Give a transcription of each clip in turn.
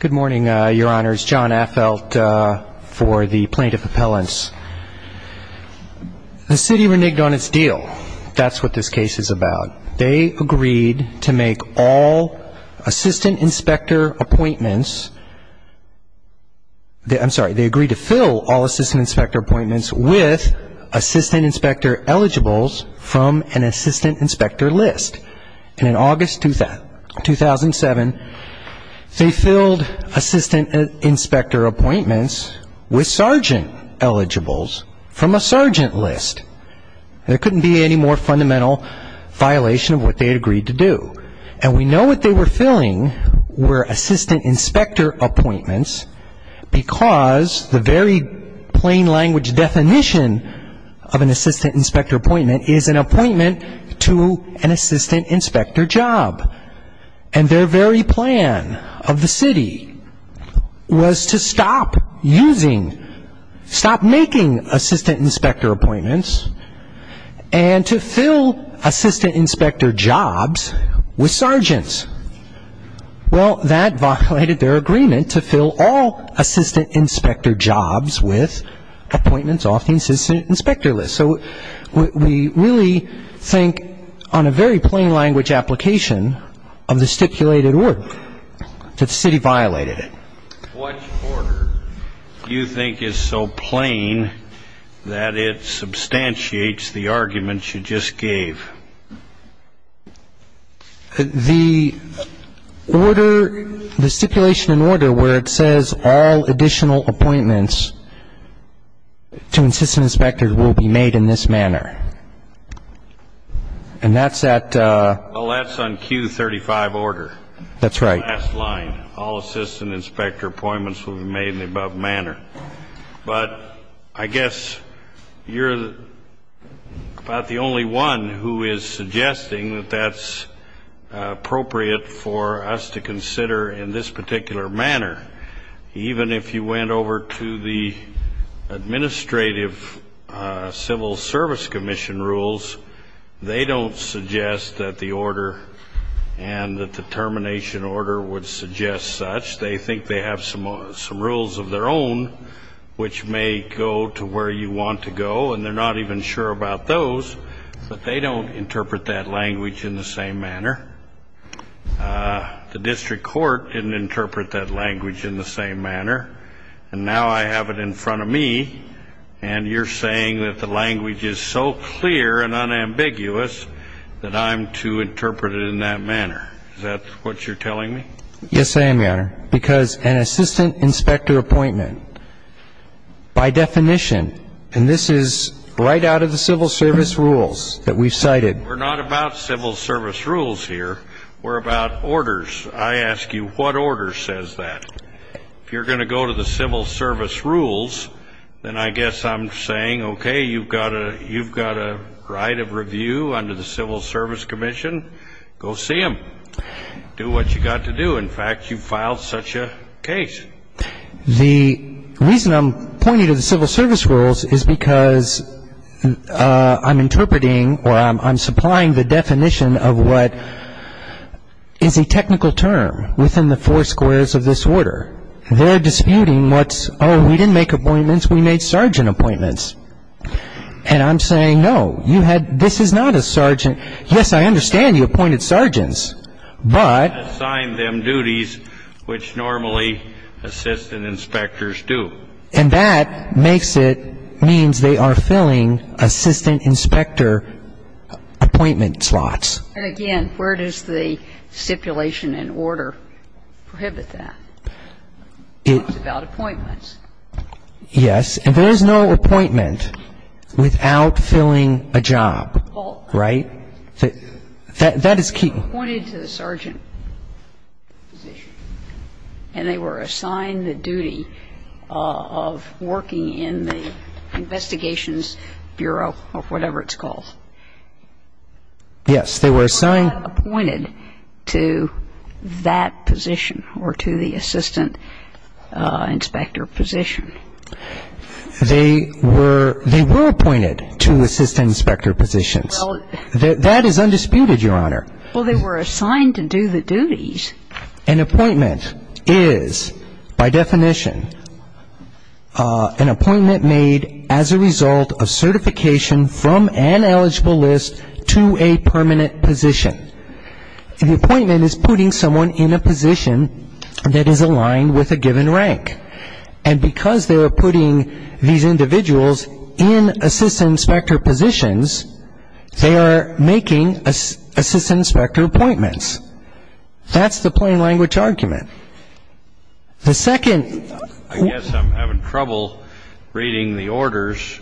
Good morning, Your Honors. John Affelt for the Plaintiff Appellants. The city reneged on its deal. That's what this case is about. They agreed to make all assistant inspector appointments I'm sorry, they agreed to fill all assistant inspector appointments with assistant inspector eligibles from an assistant inspector list. And in August 2007, they filled assistant inspector appointments with sergeant eligibles from a sergeant list. There couldn't be any more fundamental violation of what they had agreed to do. And we know what they were filling were assistant inspector appointments because the very plain language definition of an assistant inspector appointment is an appointment to an assistant inspector job. And their very plan of the city was to stop using, stop making assistant inspector appointments and to fill assistant inspector jobs with sergeants. Well, that violated their agreement to fill all assistant inspector jobs with appointments off the assistant inspector list. So we really think on a very plain language application of the stipulated order that the city violated it. What order do you think is so plain that it substantiates the arguments you just gave? The order, the stipulation in order where it says all additional appointments to assistant inspector will be made in this manner. And that's at Well, that's on Q35 order. That's right. Last line. All assistant inspector appointments will be made in the above manner. But I guess you're about the only one who is suggesting that that's appropriate for us to consider in this particular manner. Even if you went over to the administrative civil service commission rules, they don't suggest that the order and the determination order would suggest such. They think they have some rules of their own which may go to where you want to go. And they're not even sure about those. But they don't interpret that language in the same manner. The district court didn't interpret that language in the same manner. And now I have it in front of me. And you're saying that the language is so clear and unambiguous that I'm to interpret it in that manner. Is that what you're telling me? Yes, I am, Your Honor. Because an assistant inspector appointment, by definition, and this is right out of the civil service rules that we've cited. We're not about civil service rules here. We're about orders. I ask you, what order says that? If you're going to go to the civil service rules, then I guess I'm saying, okay, you've got a right of review under the civil service commission. Go see them. Do what you've got to do. In fact, you've filed such a case. The reason I'm pointing to the civil service rules is because I'm interpreting or I'm supplying the definition of what is a technical term within the four squares of this order. They're disputing what's, oh, we didn't make appointments. We made sergeant appointments. And I'm saying, no, you had, this is not a sergeant. Yes, I understand you appointed sergeants. But assign them duties which normally assistant inspectors do. And that makes it, means they are filling assistant inspector appointment slots. And again, where does the stipulation and order prohibit that? It's about appointments. Yes. And there is no appointment without filling a job. Right? That is key. They were appointed to the sergeant position. And they were assigned the duty of working in the investigations bureau or whatever it's called. Yes. They were assigned. They were not appointed to that position or to the assistant inspector position. They were appointed to assistant inspector positions. That is undisputed, Your Honor. Well, they were assigned to do the duties. An appointment is, by definition, an appointment made as a result of certification from an eligible list to a permanent position. The appointment is putting someone in a position that is aligned with a given rank. And because they are putting these individuals in assistant inspector positions, they are making assistant inspector appointments. That's the plain language argument. The second ---- I guess I'm having trouble reading the orders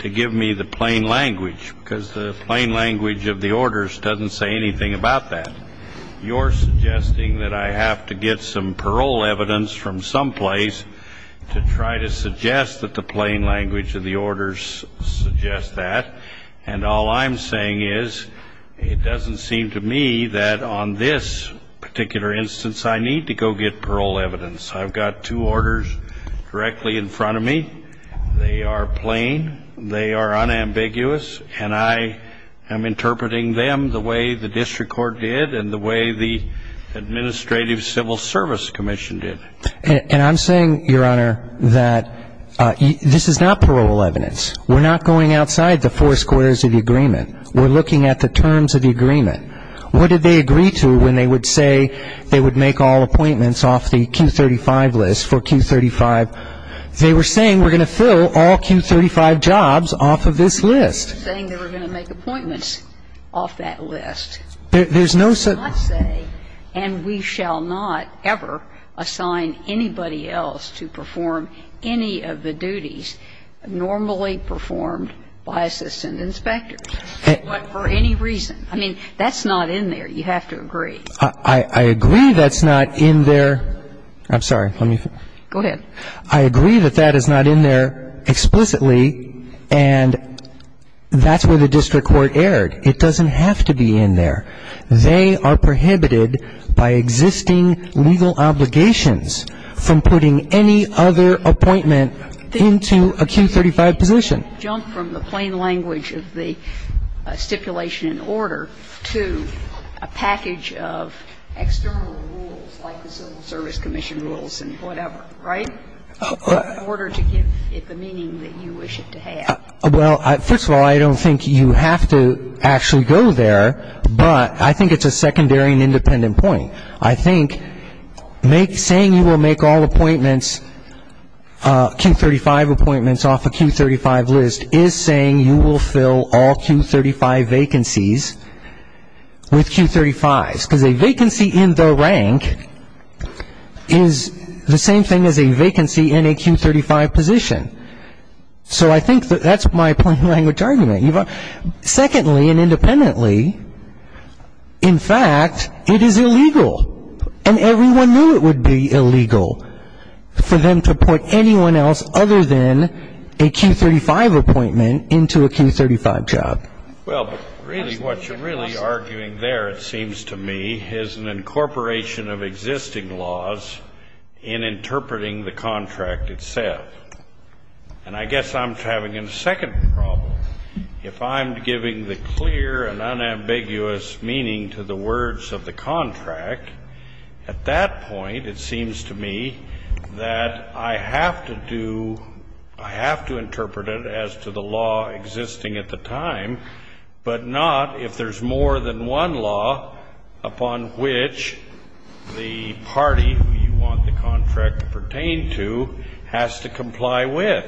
to give me the plain language, because the plain language of the orders doesn't say anything about that. You're suggesting that I have to get some parole evidence from someplace to try to suggest that the plain language of the orders suggests that. And all I'm saying is it doesn't seem to me that on this particular instance I need to go get parole evidence. I've got two orders directly in front of me. They are plain. They are unambiguous. And I am interpreting them the way the district court did and the way the Administrative Civil Service Commission did. And I'm saying, Your Honor, that this is not parole evidence. We're not going outside the four squares of the agreement. We're looking at the terms of the agreement. What did they agree to when they would say they would make all appointments off the Q35 list for Q35? They were saying we're going to fill all Q35 jobs off of this list. They were saying they were going to make appointments off that list. There's no such ---- I'm not saying, and we shall not ever assign anybody else to perform any of the duties normally performed by assistant inspectors, but for any reason. I mean, that's not in there. You have to agree. I agree that's not in there. I'm sorry. Let me ---- Go ahead. I agree that that is not in there explicitly, and that's where the district court erred. It doesn't have to be in there. They are prohibited by existing legal obligations from putting any other appointment into a Q35 position. Jump from the plain language of the stipulation in order to a package of external rules like the Civil Service Commission rules and whatever, right? In order to give it the meaning that you wish it to have. Well, first of all, I don't think you have to actually go there, but I think it's a secondary and independent point. I think saying you will make all appointments, Q35 appointments off a Q35 list, is saying you will fill all Q35 vacancies with Q35s. Because a vacancy in the rank is the same thing as a vacancy in a Q35 position. So I think that that's my plain language argument. Secondly, and independently, in fact, it is illegal. And everyone knew it would be illegal for them to put anyone else other than a Q35 appointment into a Q35 job. Well, but really what you're really arguing there, it seems to me, is an incorporation of existing laws in interpreting the contract itself. And I guess I'm having a second problem. If I'm giving the clear and unambiguous meaning to the words of the contract, at that point it seems to me that I have to do, I have to interpret it as to the law existing at the time, but not if there's more than one law upon which the party you want the contract pertained to has to comply with.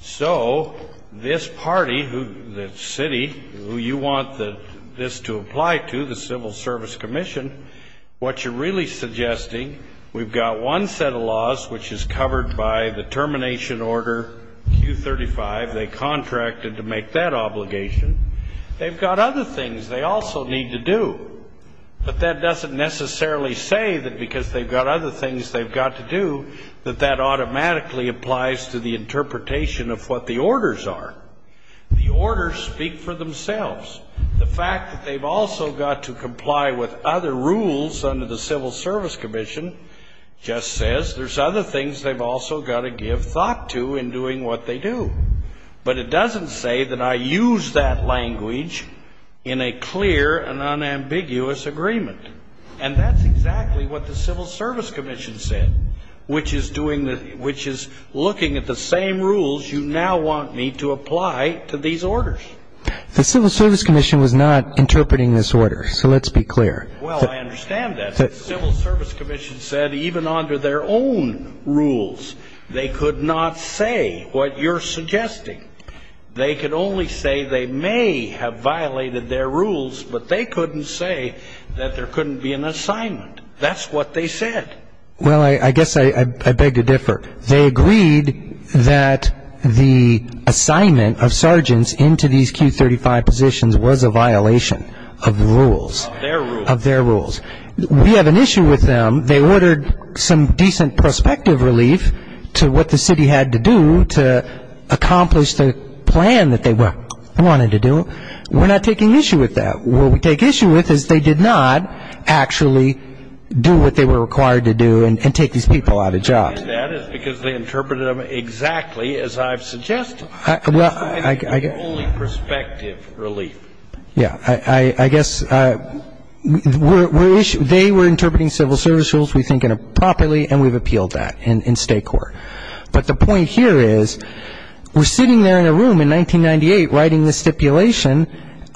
So this party, the city, who you want this to apply to, the Civil Service Commission, what you're really suggesting, we've got one set of laws which is covered by the termination order Q35. They contracted to make that obligation. They've got other things they also need to do. But that doesn't necessarily say that because they've got other things they've got to do that that automatically applies to the interpretation of what the orders are. The orders speak for themselves. The fact that they've also got to comply with other rules under the Civil Service Commission just says there's other things they've also got to give thought to in doing what they do. But it doesn't say that I use that language in a clear and unambiguous agreement. And that's exactly what the Civil Service Commission said, which is looking at the same rules you now want me to apply to these orders. The Civil Service Commission was not interpreting this order, so let's be clear. Well, I understand that. The Civil Service Commission said even under their own rules they could not say what you're suggesting. They could only say they may have violated their rules, but they couldn't say that there couldn't be an assignment. That's what they said. Well, I guess I beg to differ. They agreed that the assignment of sergeants into these Q35 positions was a violation of the rules, of their rules. We have an issue with them. They ordered some decent prospective relief to what the city had to do to accomplish the plan that they wanted to do. We're not taking issue with that. What we take issue with is they did not actually do what they were required to do and take these people out of jobs. The reason I'm saying that is because they interpreted them exactly as I've suggested. Well, I guess they were interpreting civil service rules, we think, properly, and we've appealed that in state court. But the point here is we're sitting there in a room in 1998 writing this stipulation.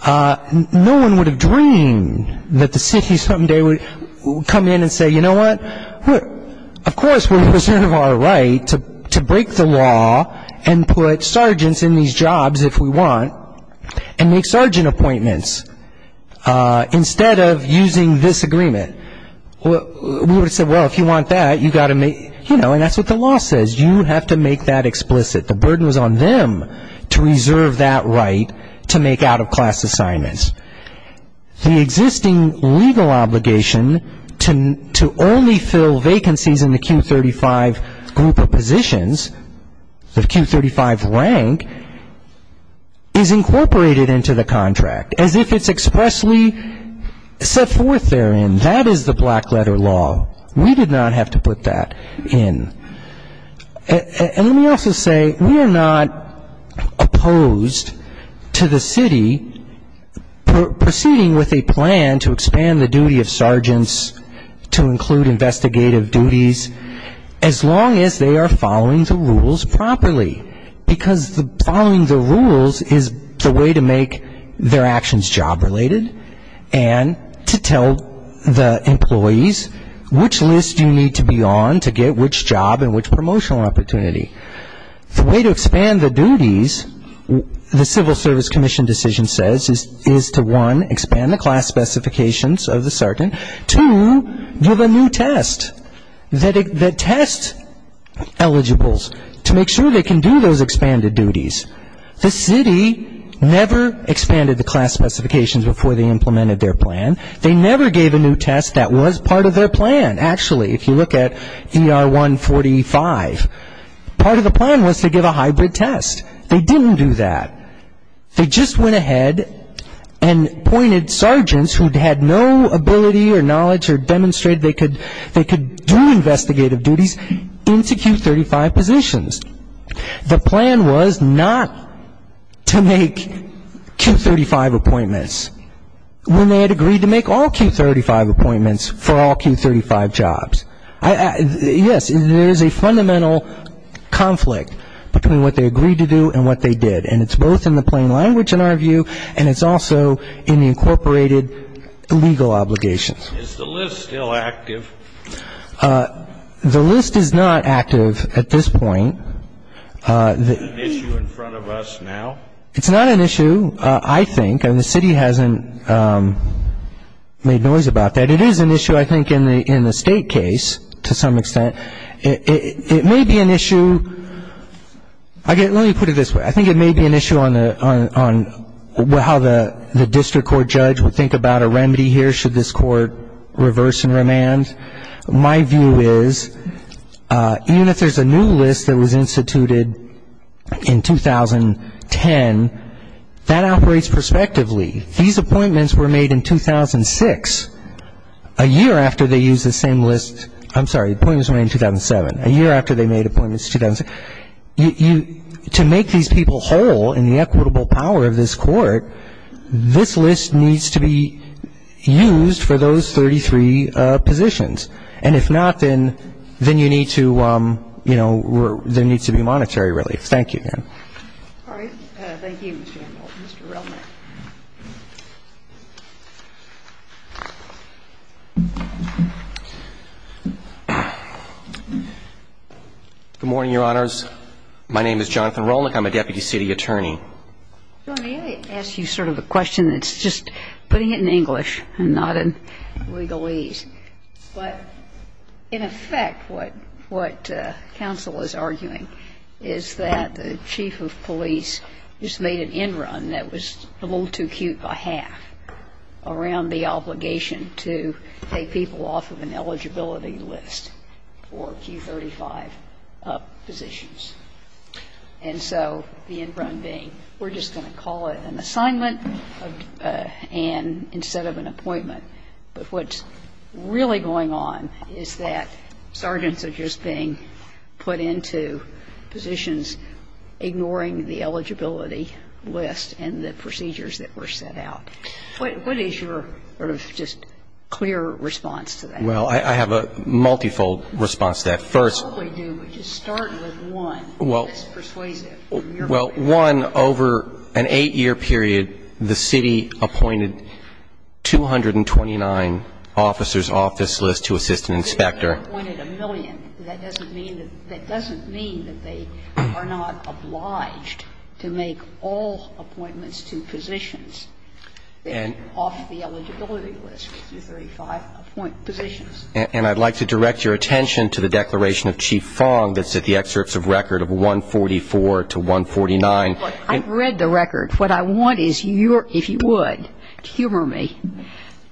No one would have dreamed that the city someday would come in and say, you know what, of course we reserve our right to break the law and put sergeants in these jobs if we want and make sergeant appointments instead of using this agreement. We would have said, well, if you want that, you've got to make, you know, and that's what the law says. You have to make that explicit. The burden was on them to reserve that right to make out-of-class assignments. The existing legal obligation to only fill vacancies in the Q35 group of positions, the Q35 rank, is incorporated into the contract, as if it's expressly set forth therein. That is the black letter law. We did not have to put that in. And let me also say, we are not opposed to the city proceeding with a plan to expand the duty of sergeants to include investigative duties as long as they are following the rules properly, because following the rules is the way to make their actions job-related and to tell the employees which list you need to be on to get which job and which promotional opportunity. The way to expand the duties, the Civil Service Commission decision says, is to, one, expand the class specifications of the sergeant, two, give a new test, the test eligibles, to make sure they can do those expanded duties. The city never expanded the class specifications before they implemented their plan. They never gave a new test that was part of their plan. Actually, if you look at ER 145, part of the plan was to give a hybrid test. They didn't do that. They just went ahead and appointed sergeants who had no ability or knowledge or demonstrated they could do investigative duties into Q35 positions. The plan was not to make Q35 appointments when they had agreed to make all Q35 appointments for all Q35 jobs. Yes, there is a fundamental conflict between what they agreed to do and what they did, and it's both in the plain language, in our view, and it's also in the incorporated legal obligations. Is the list still active? The list is not active at this point. Is it an issue in front of us now? It's not an issue, I think, and the city hasn't made noise about that. It is an issue, I think, in the State case to some extent. It may be an issue, let me put it this way, I think it may be an issue on how the district court judge would think about a remedy here should this court reverse and remand. My view is even if there's a new list that was instituted in 2010, that operates prospectively. These appointments were made in 2006, a year after they used the same list. I'm sorry, appointments were made in 2007, a year after they made appointments in 2007. To make these people whole in the equitable power of this court, this list needs to be used for those 33 positions. And if not, then you need to, you know, there needs to be monetary relief. Thank you, ma'am. All right. Thank you, Mr. Hamilton. Mr. Relnick. Good morning, Your Honors. My name is Jonathan Relnick. I'm a deputy city attorney. Let me ask you sort of a question that's just putting it in English and not in legalese. But in effect, what counsel is arguing is that the chief of police just made an in-run that was a little too cute by half around the obligation to take people off of an eligibility list for Q35 positions. And so the in-run being we're just going to call it an assignment and instead of an appointment. But what's really going on is that sergeants are just being put into positions ignoring the eligibility list and the procedures that were set out. What is your sort of just clear response to that? Well, I have a multifold response to that. You probably do, but just start with one that's persuasive. Well, one, over an 8-year period, the city appointed 229 officers off this list to assist an inspector. If they're appointed a million, that doesn't mean that they are not obliged to make all appointments to positions off the eligibility list for Q35 positions. And I'd like to direct your attention to the declaration of Chief Fong that's at the excerpts of record of 144 to 149. Look, I've read the record. What I want is your, if you would, humor me,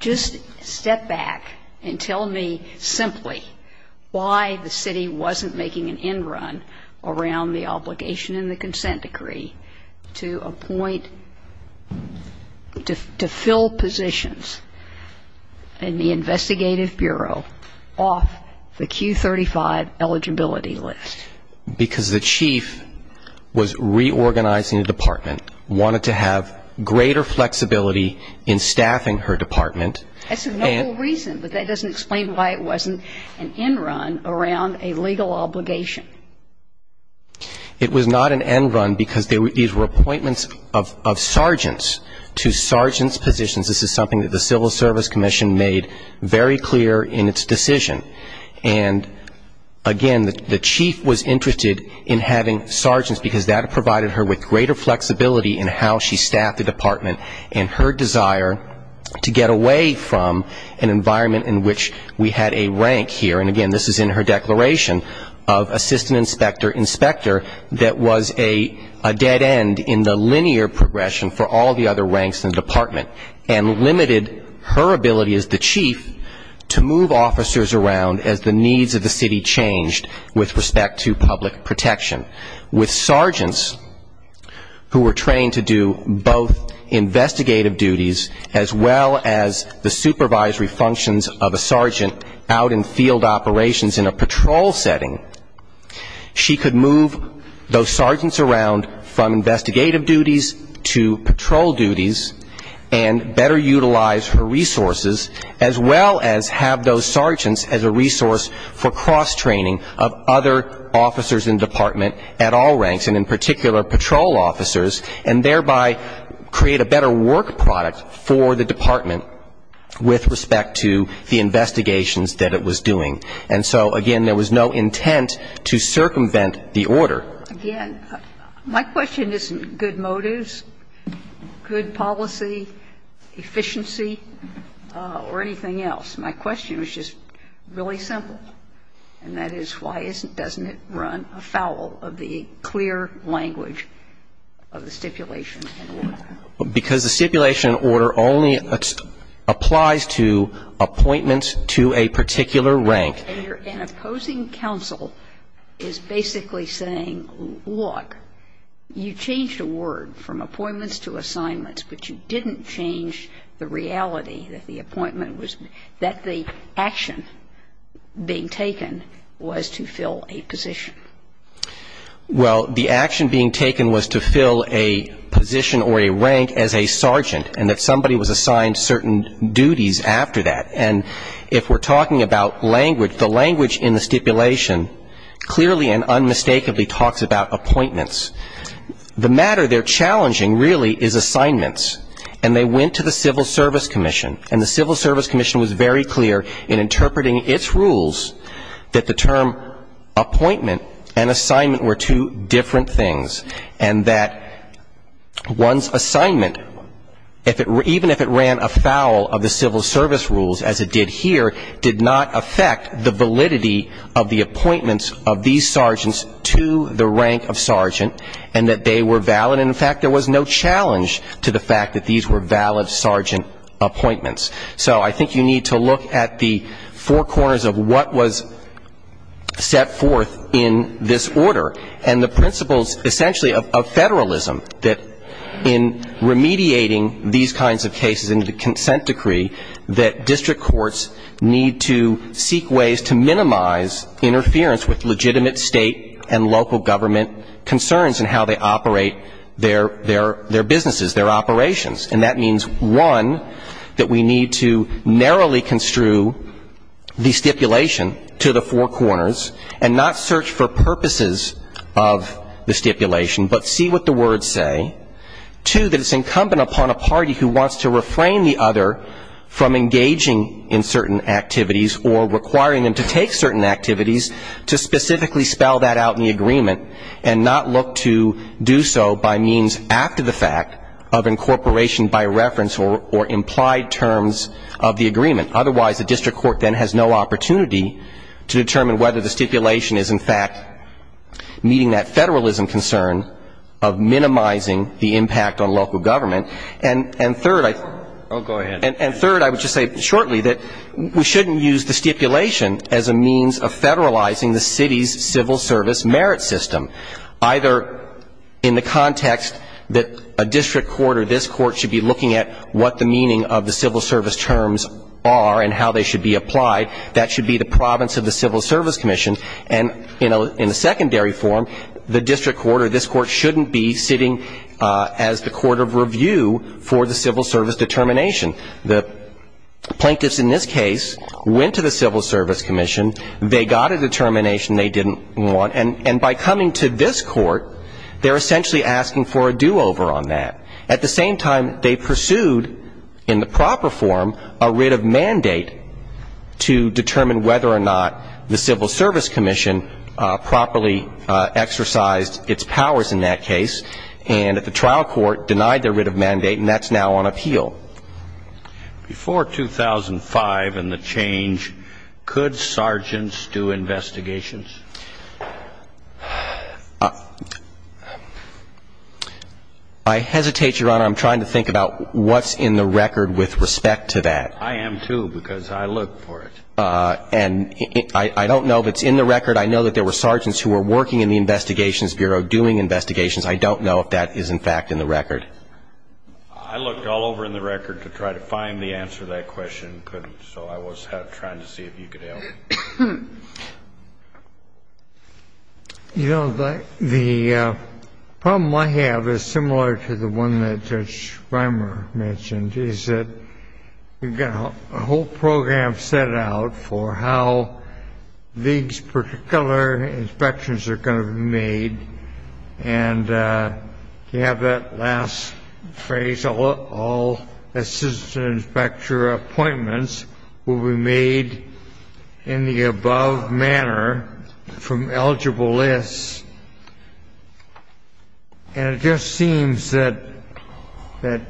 just step back and tell me simply why the city wasn't making an in-run around the obligation and the consent decree to appoint, to fill positions in the investigative bureau off the Q35 eligibility list. Because the chief was reorganizing the department, wanted to have greater flexibility in staffing her department. That's a notable reason, but that doesn't explain why it wasn't an in-run around a legal obligation. It was not an in-run because these were appointments of sergeants to sergeants' positions. This is something that the Civil Service Commission made very clear in its decision. And, again, the chief was interested in having sergeants because that provided her with greater flexibility in how she staffed the department and her desire to get away from an environment in which we had a rank here. And, again, this is in her declaration of assistant inspector, inspector that was a dead end in the linear progression for all the other around as the needs of the city changed with respect to public protection. With sergeants who were trained to do both investigative duties as well as the supervisory functions of a sergeant out in field operations in a patrol setting, she could move those sergeants around from investigative duties to patrol duties and better utilize her resources, as well as have those sergeants as a resource for cross-training of other officers in the department at all ranks, and in particular, patrol officers, and thereby create a better work product for the department with respect to the investigations that it was doing. And so, again, there was no intent to circumvent the order. Again, my question isn't good motives, good policy, efficiency, or anything else. My question was just really simple, and that is why isn't, doesn't it run afoul of the clear language of the stipulation and order? Because the stipulation order only applies to appointments to a particular rank. And an opposing counsel is basically saying, look, you changed a word from appointments to assignments, but you didn't change the reality that the appointment was, that the action being taken was to fill a position. Well, the action being taken was to fill a position or a rank as a sergeant, and that somebody was assigned certain duties after that. And if we're talking about language, the language in the stipulation clearly and unmistakably talks about appointments. The matter there challenging really is assignments, and they went to the Civil Service Commission, and the Civil Service Commission was very clear in interpreting its rules that the term appointment and assignment were two different things, and that one's assignment, even if it ran afoul of the Civil Service rules, as it did here, did not affect the validity of the appointments of these sergeants to the rank of sergeant, and that they were valid. In fact, there was no challenge to the fact that these were valid sergeant appointments. So I think you need to look at the four corners of what was set forth in this order, and the principles essentially of federalism, that in remediating these kinds of cases into the consent decree, that district courts need to seek ways to minimize interference with legitimate state and local government concerns in how they operate their businesses, their operations. And that means, one, that we need to narrowly construe the stipulation to the four corners and not search for purposes of the stipulation, but see what the words say. Two, that it's incumbent upon a party who wants to refrain the other from engaging in certain activities or requiring them to take certain activities to specifically spell that out in the agreement and not look to do so by means after the fact of incorporation by reference or implied terms of the agreement. Otherwise, the district court then has no opportunity to determine whether the stipulation is, in fact, meeting that federalism concern of minimizing the impact on local government. And third, I would just say shortly that we shouldn't use the stipulation as a means of federalizing the city's civil service merit system, either in the context that a district court or this court should be looking at what the meaning of the civil service terms are and how they should be applied. That should be the province of the Civil Service Commission. And in a secondary form, the district court or this court shouldn't be sitting as the court of review for the civil service determination. The plaintiffs in this case went to the Civil Service Commission. They got a determination they didn't want. And by coming to this court, they're essentially asking for a do-over on that. At the same time, they pursued in the proper form a writ of mandate to determine whether or not the Civil Service Commission properly exercised its powers in that case. And the trial court denied their writ of mandate, and that's now on appeal. Before 2005 and the change, could sergeants do investigations? I hesitate, Your Honor. I'm trying to think about what's in the record with respect to that. I am, too, because I looked for it. And I don't know if it's in the record. I know that there were sergeants who were working in the Investigations Bureau doing investigations. I don't know if that is, in fact, in the record. I looked all over in the record to try to find the answer to that question, so I was trying to see if you could help. You know, the problem I have is similar to the one that Judge Reimer mentioned, is that you've got a whole program set out for how these particular inspections are going to be made. And you have that last phrase, all assistant inspector appointments will be made in the above manner from eligible lists. And it just seems that the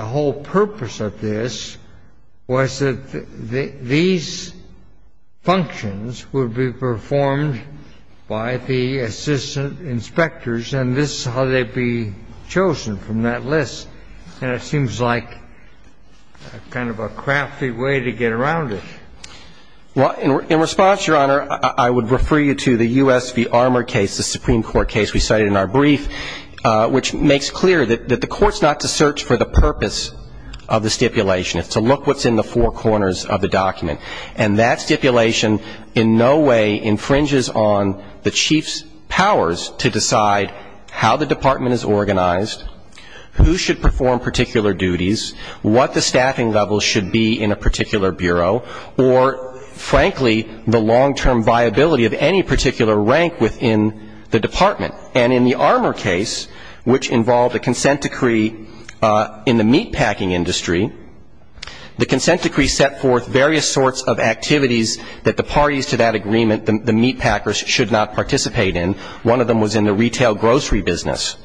whole purpose of this was that these functions would be performed by the assistant inspectors, and this is how they'd be chosen from that list. And it seems like kind of a crafty way to get around it. Well, in response, Your Honor, I would refer you to the U.S. v. Armour case, the Supreme Court case we cited in our brief, which makes clear that the court's not to search for the purpose of the stipulation. It's to look what's in the four corners of the document. And that stipulation in no way infringes on the chief's powers to decide how the department is organized, who should perform particular duties, what the staffing level should be in a particular bureau, or, frankly, the long-term viability of any particular rank within the department. And in the Armour case, which involved a consent decree in the meatpacking industry, the consent decree set forth various sorts of activities that the parties to that agreement, the meatpackers, should not participate in. One of them was in the retail grocery business.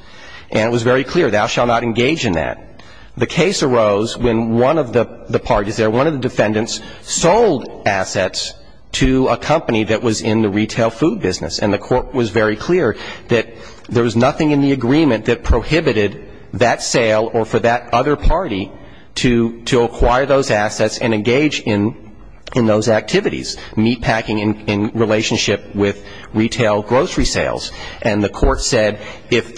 And it was very clear, thou shalt not engage in that. The case arose when one of the parties there, one of the defendants, sold assets to a company that was in the retail food business. And the court was very clear that there was nothing in the agreement that prohibited that sale or for that other party to acquire those assets and engage in those activities, meatpacking in relationship with retail grocery sales. And the court said if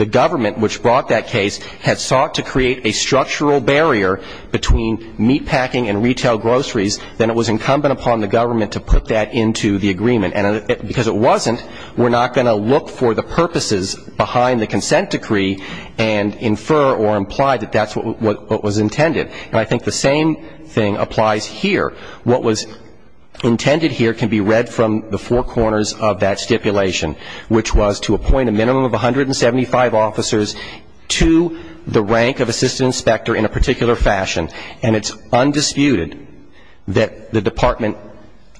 the government, which brought that case, had sought to create a structural barrier between meatpacking and retail groceries, then it was incumbent upon the government to put that into the agreement. And because it wasn't, we're not going to look for the purposes behind the consent decree and infer or imply that that's what was intended. And I think the same thing applies here. What was intended here can be read from the four corners of that stipulation, which was to appoint a minimum of 175 officers to the rank of assistant inspector in a particular fashion. And it's undisputed that the Department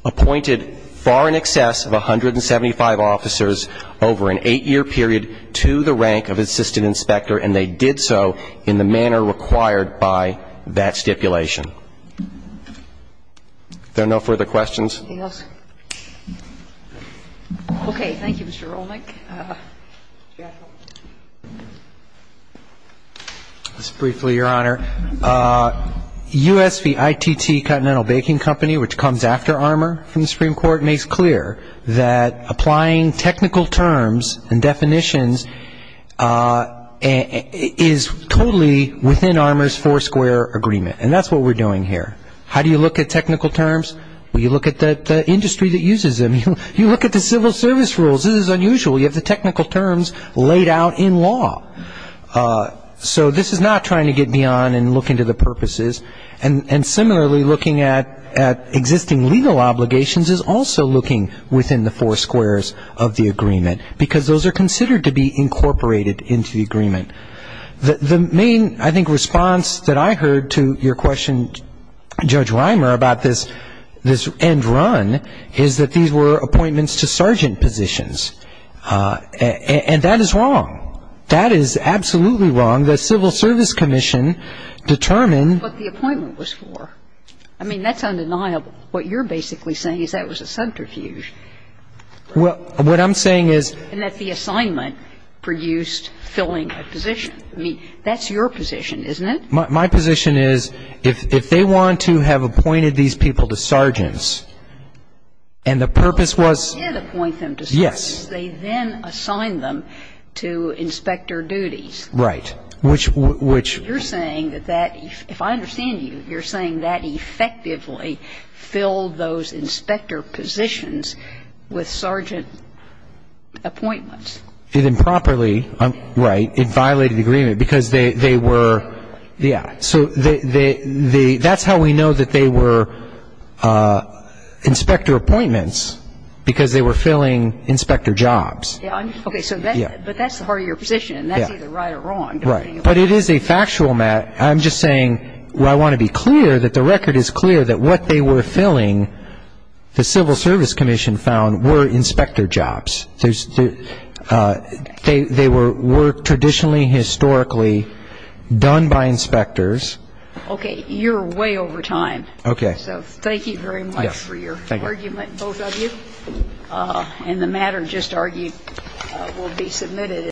appointed far in excess of 175 officers over an eight-year period to the rank of assistant inspector, and they did so in the manner required by that stipulation. If there are no further questions. Anything else? Okay. Thank you, Mr. Rolnick. Just briefly, Your Honor, USVITT Continental Baking Company, which comes after Armour from the Supreme Court, makes clear that applying technical terms and definitions is totally within Armour's four-square agreement. And that's what we're doing here. How do you look at technical terms? Well, you look at the industry that uses them. You look at the civil service rules. This is unusual. You have the technical terms laid out in law. So this is not trying to get beyond and look into the purposes. And similarly, looking at existing legal obligations is also looking within the four squares of the agreement, because those are considered to be incorporated into the agreement. The main, I think, response that I heard to your question, Judge Reimer, about this end run is that these were appointments to sergeant positions. And that is wrong. That is absolutely wrong. The Civil Service Commission determined the appointment was for. I mean, that's undeniable. What you're basically saying is that was a subterfuge. Well, what I'm saying is the assignment produced filling a position. I mean, that's your position, isn't it? Well, my position is if they want to have appointed these people to sergeants and the purpose was yes. Well, they did appoint them to sergeants. They then assigned them to inspector duties. Right. Which, which. You're saying that that, if I understand you, you're saying that effectively filled those inspector positions with sergeant appointments. It improperly. Right. It violated the agreement because they were, yeah. So that's how we know that they were inspector appointments, because they were filling inspector jobs. Okay. But that's part of your position, and that's either right or wrong. Right. But it is a factual matter. I'm just saying I want to be clear that the record is clear that what they were filling, the Civil Service Commission found, were inspector jobs. They were traditionally, historically done by inspectors. Okay. You're way over time. Okay. So thank you very much for your argument, both of you. Thank you. And the matter just argued will be submitted.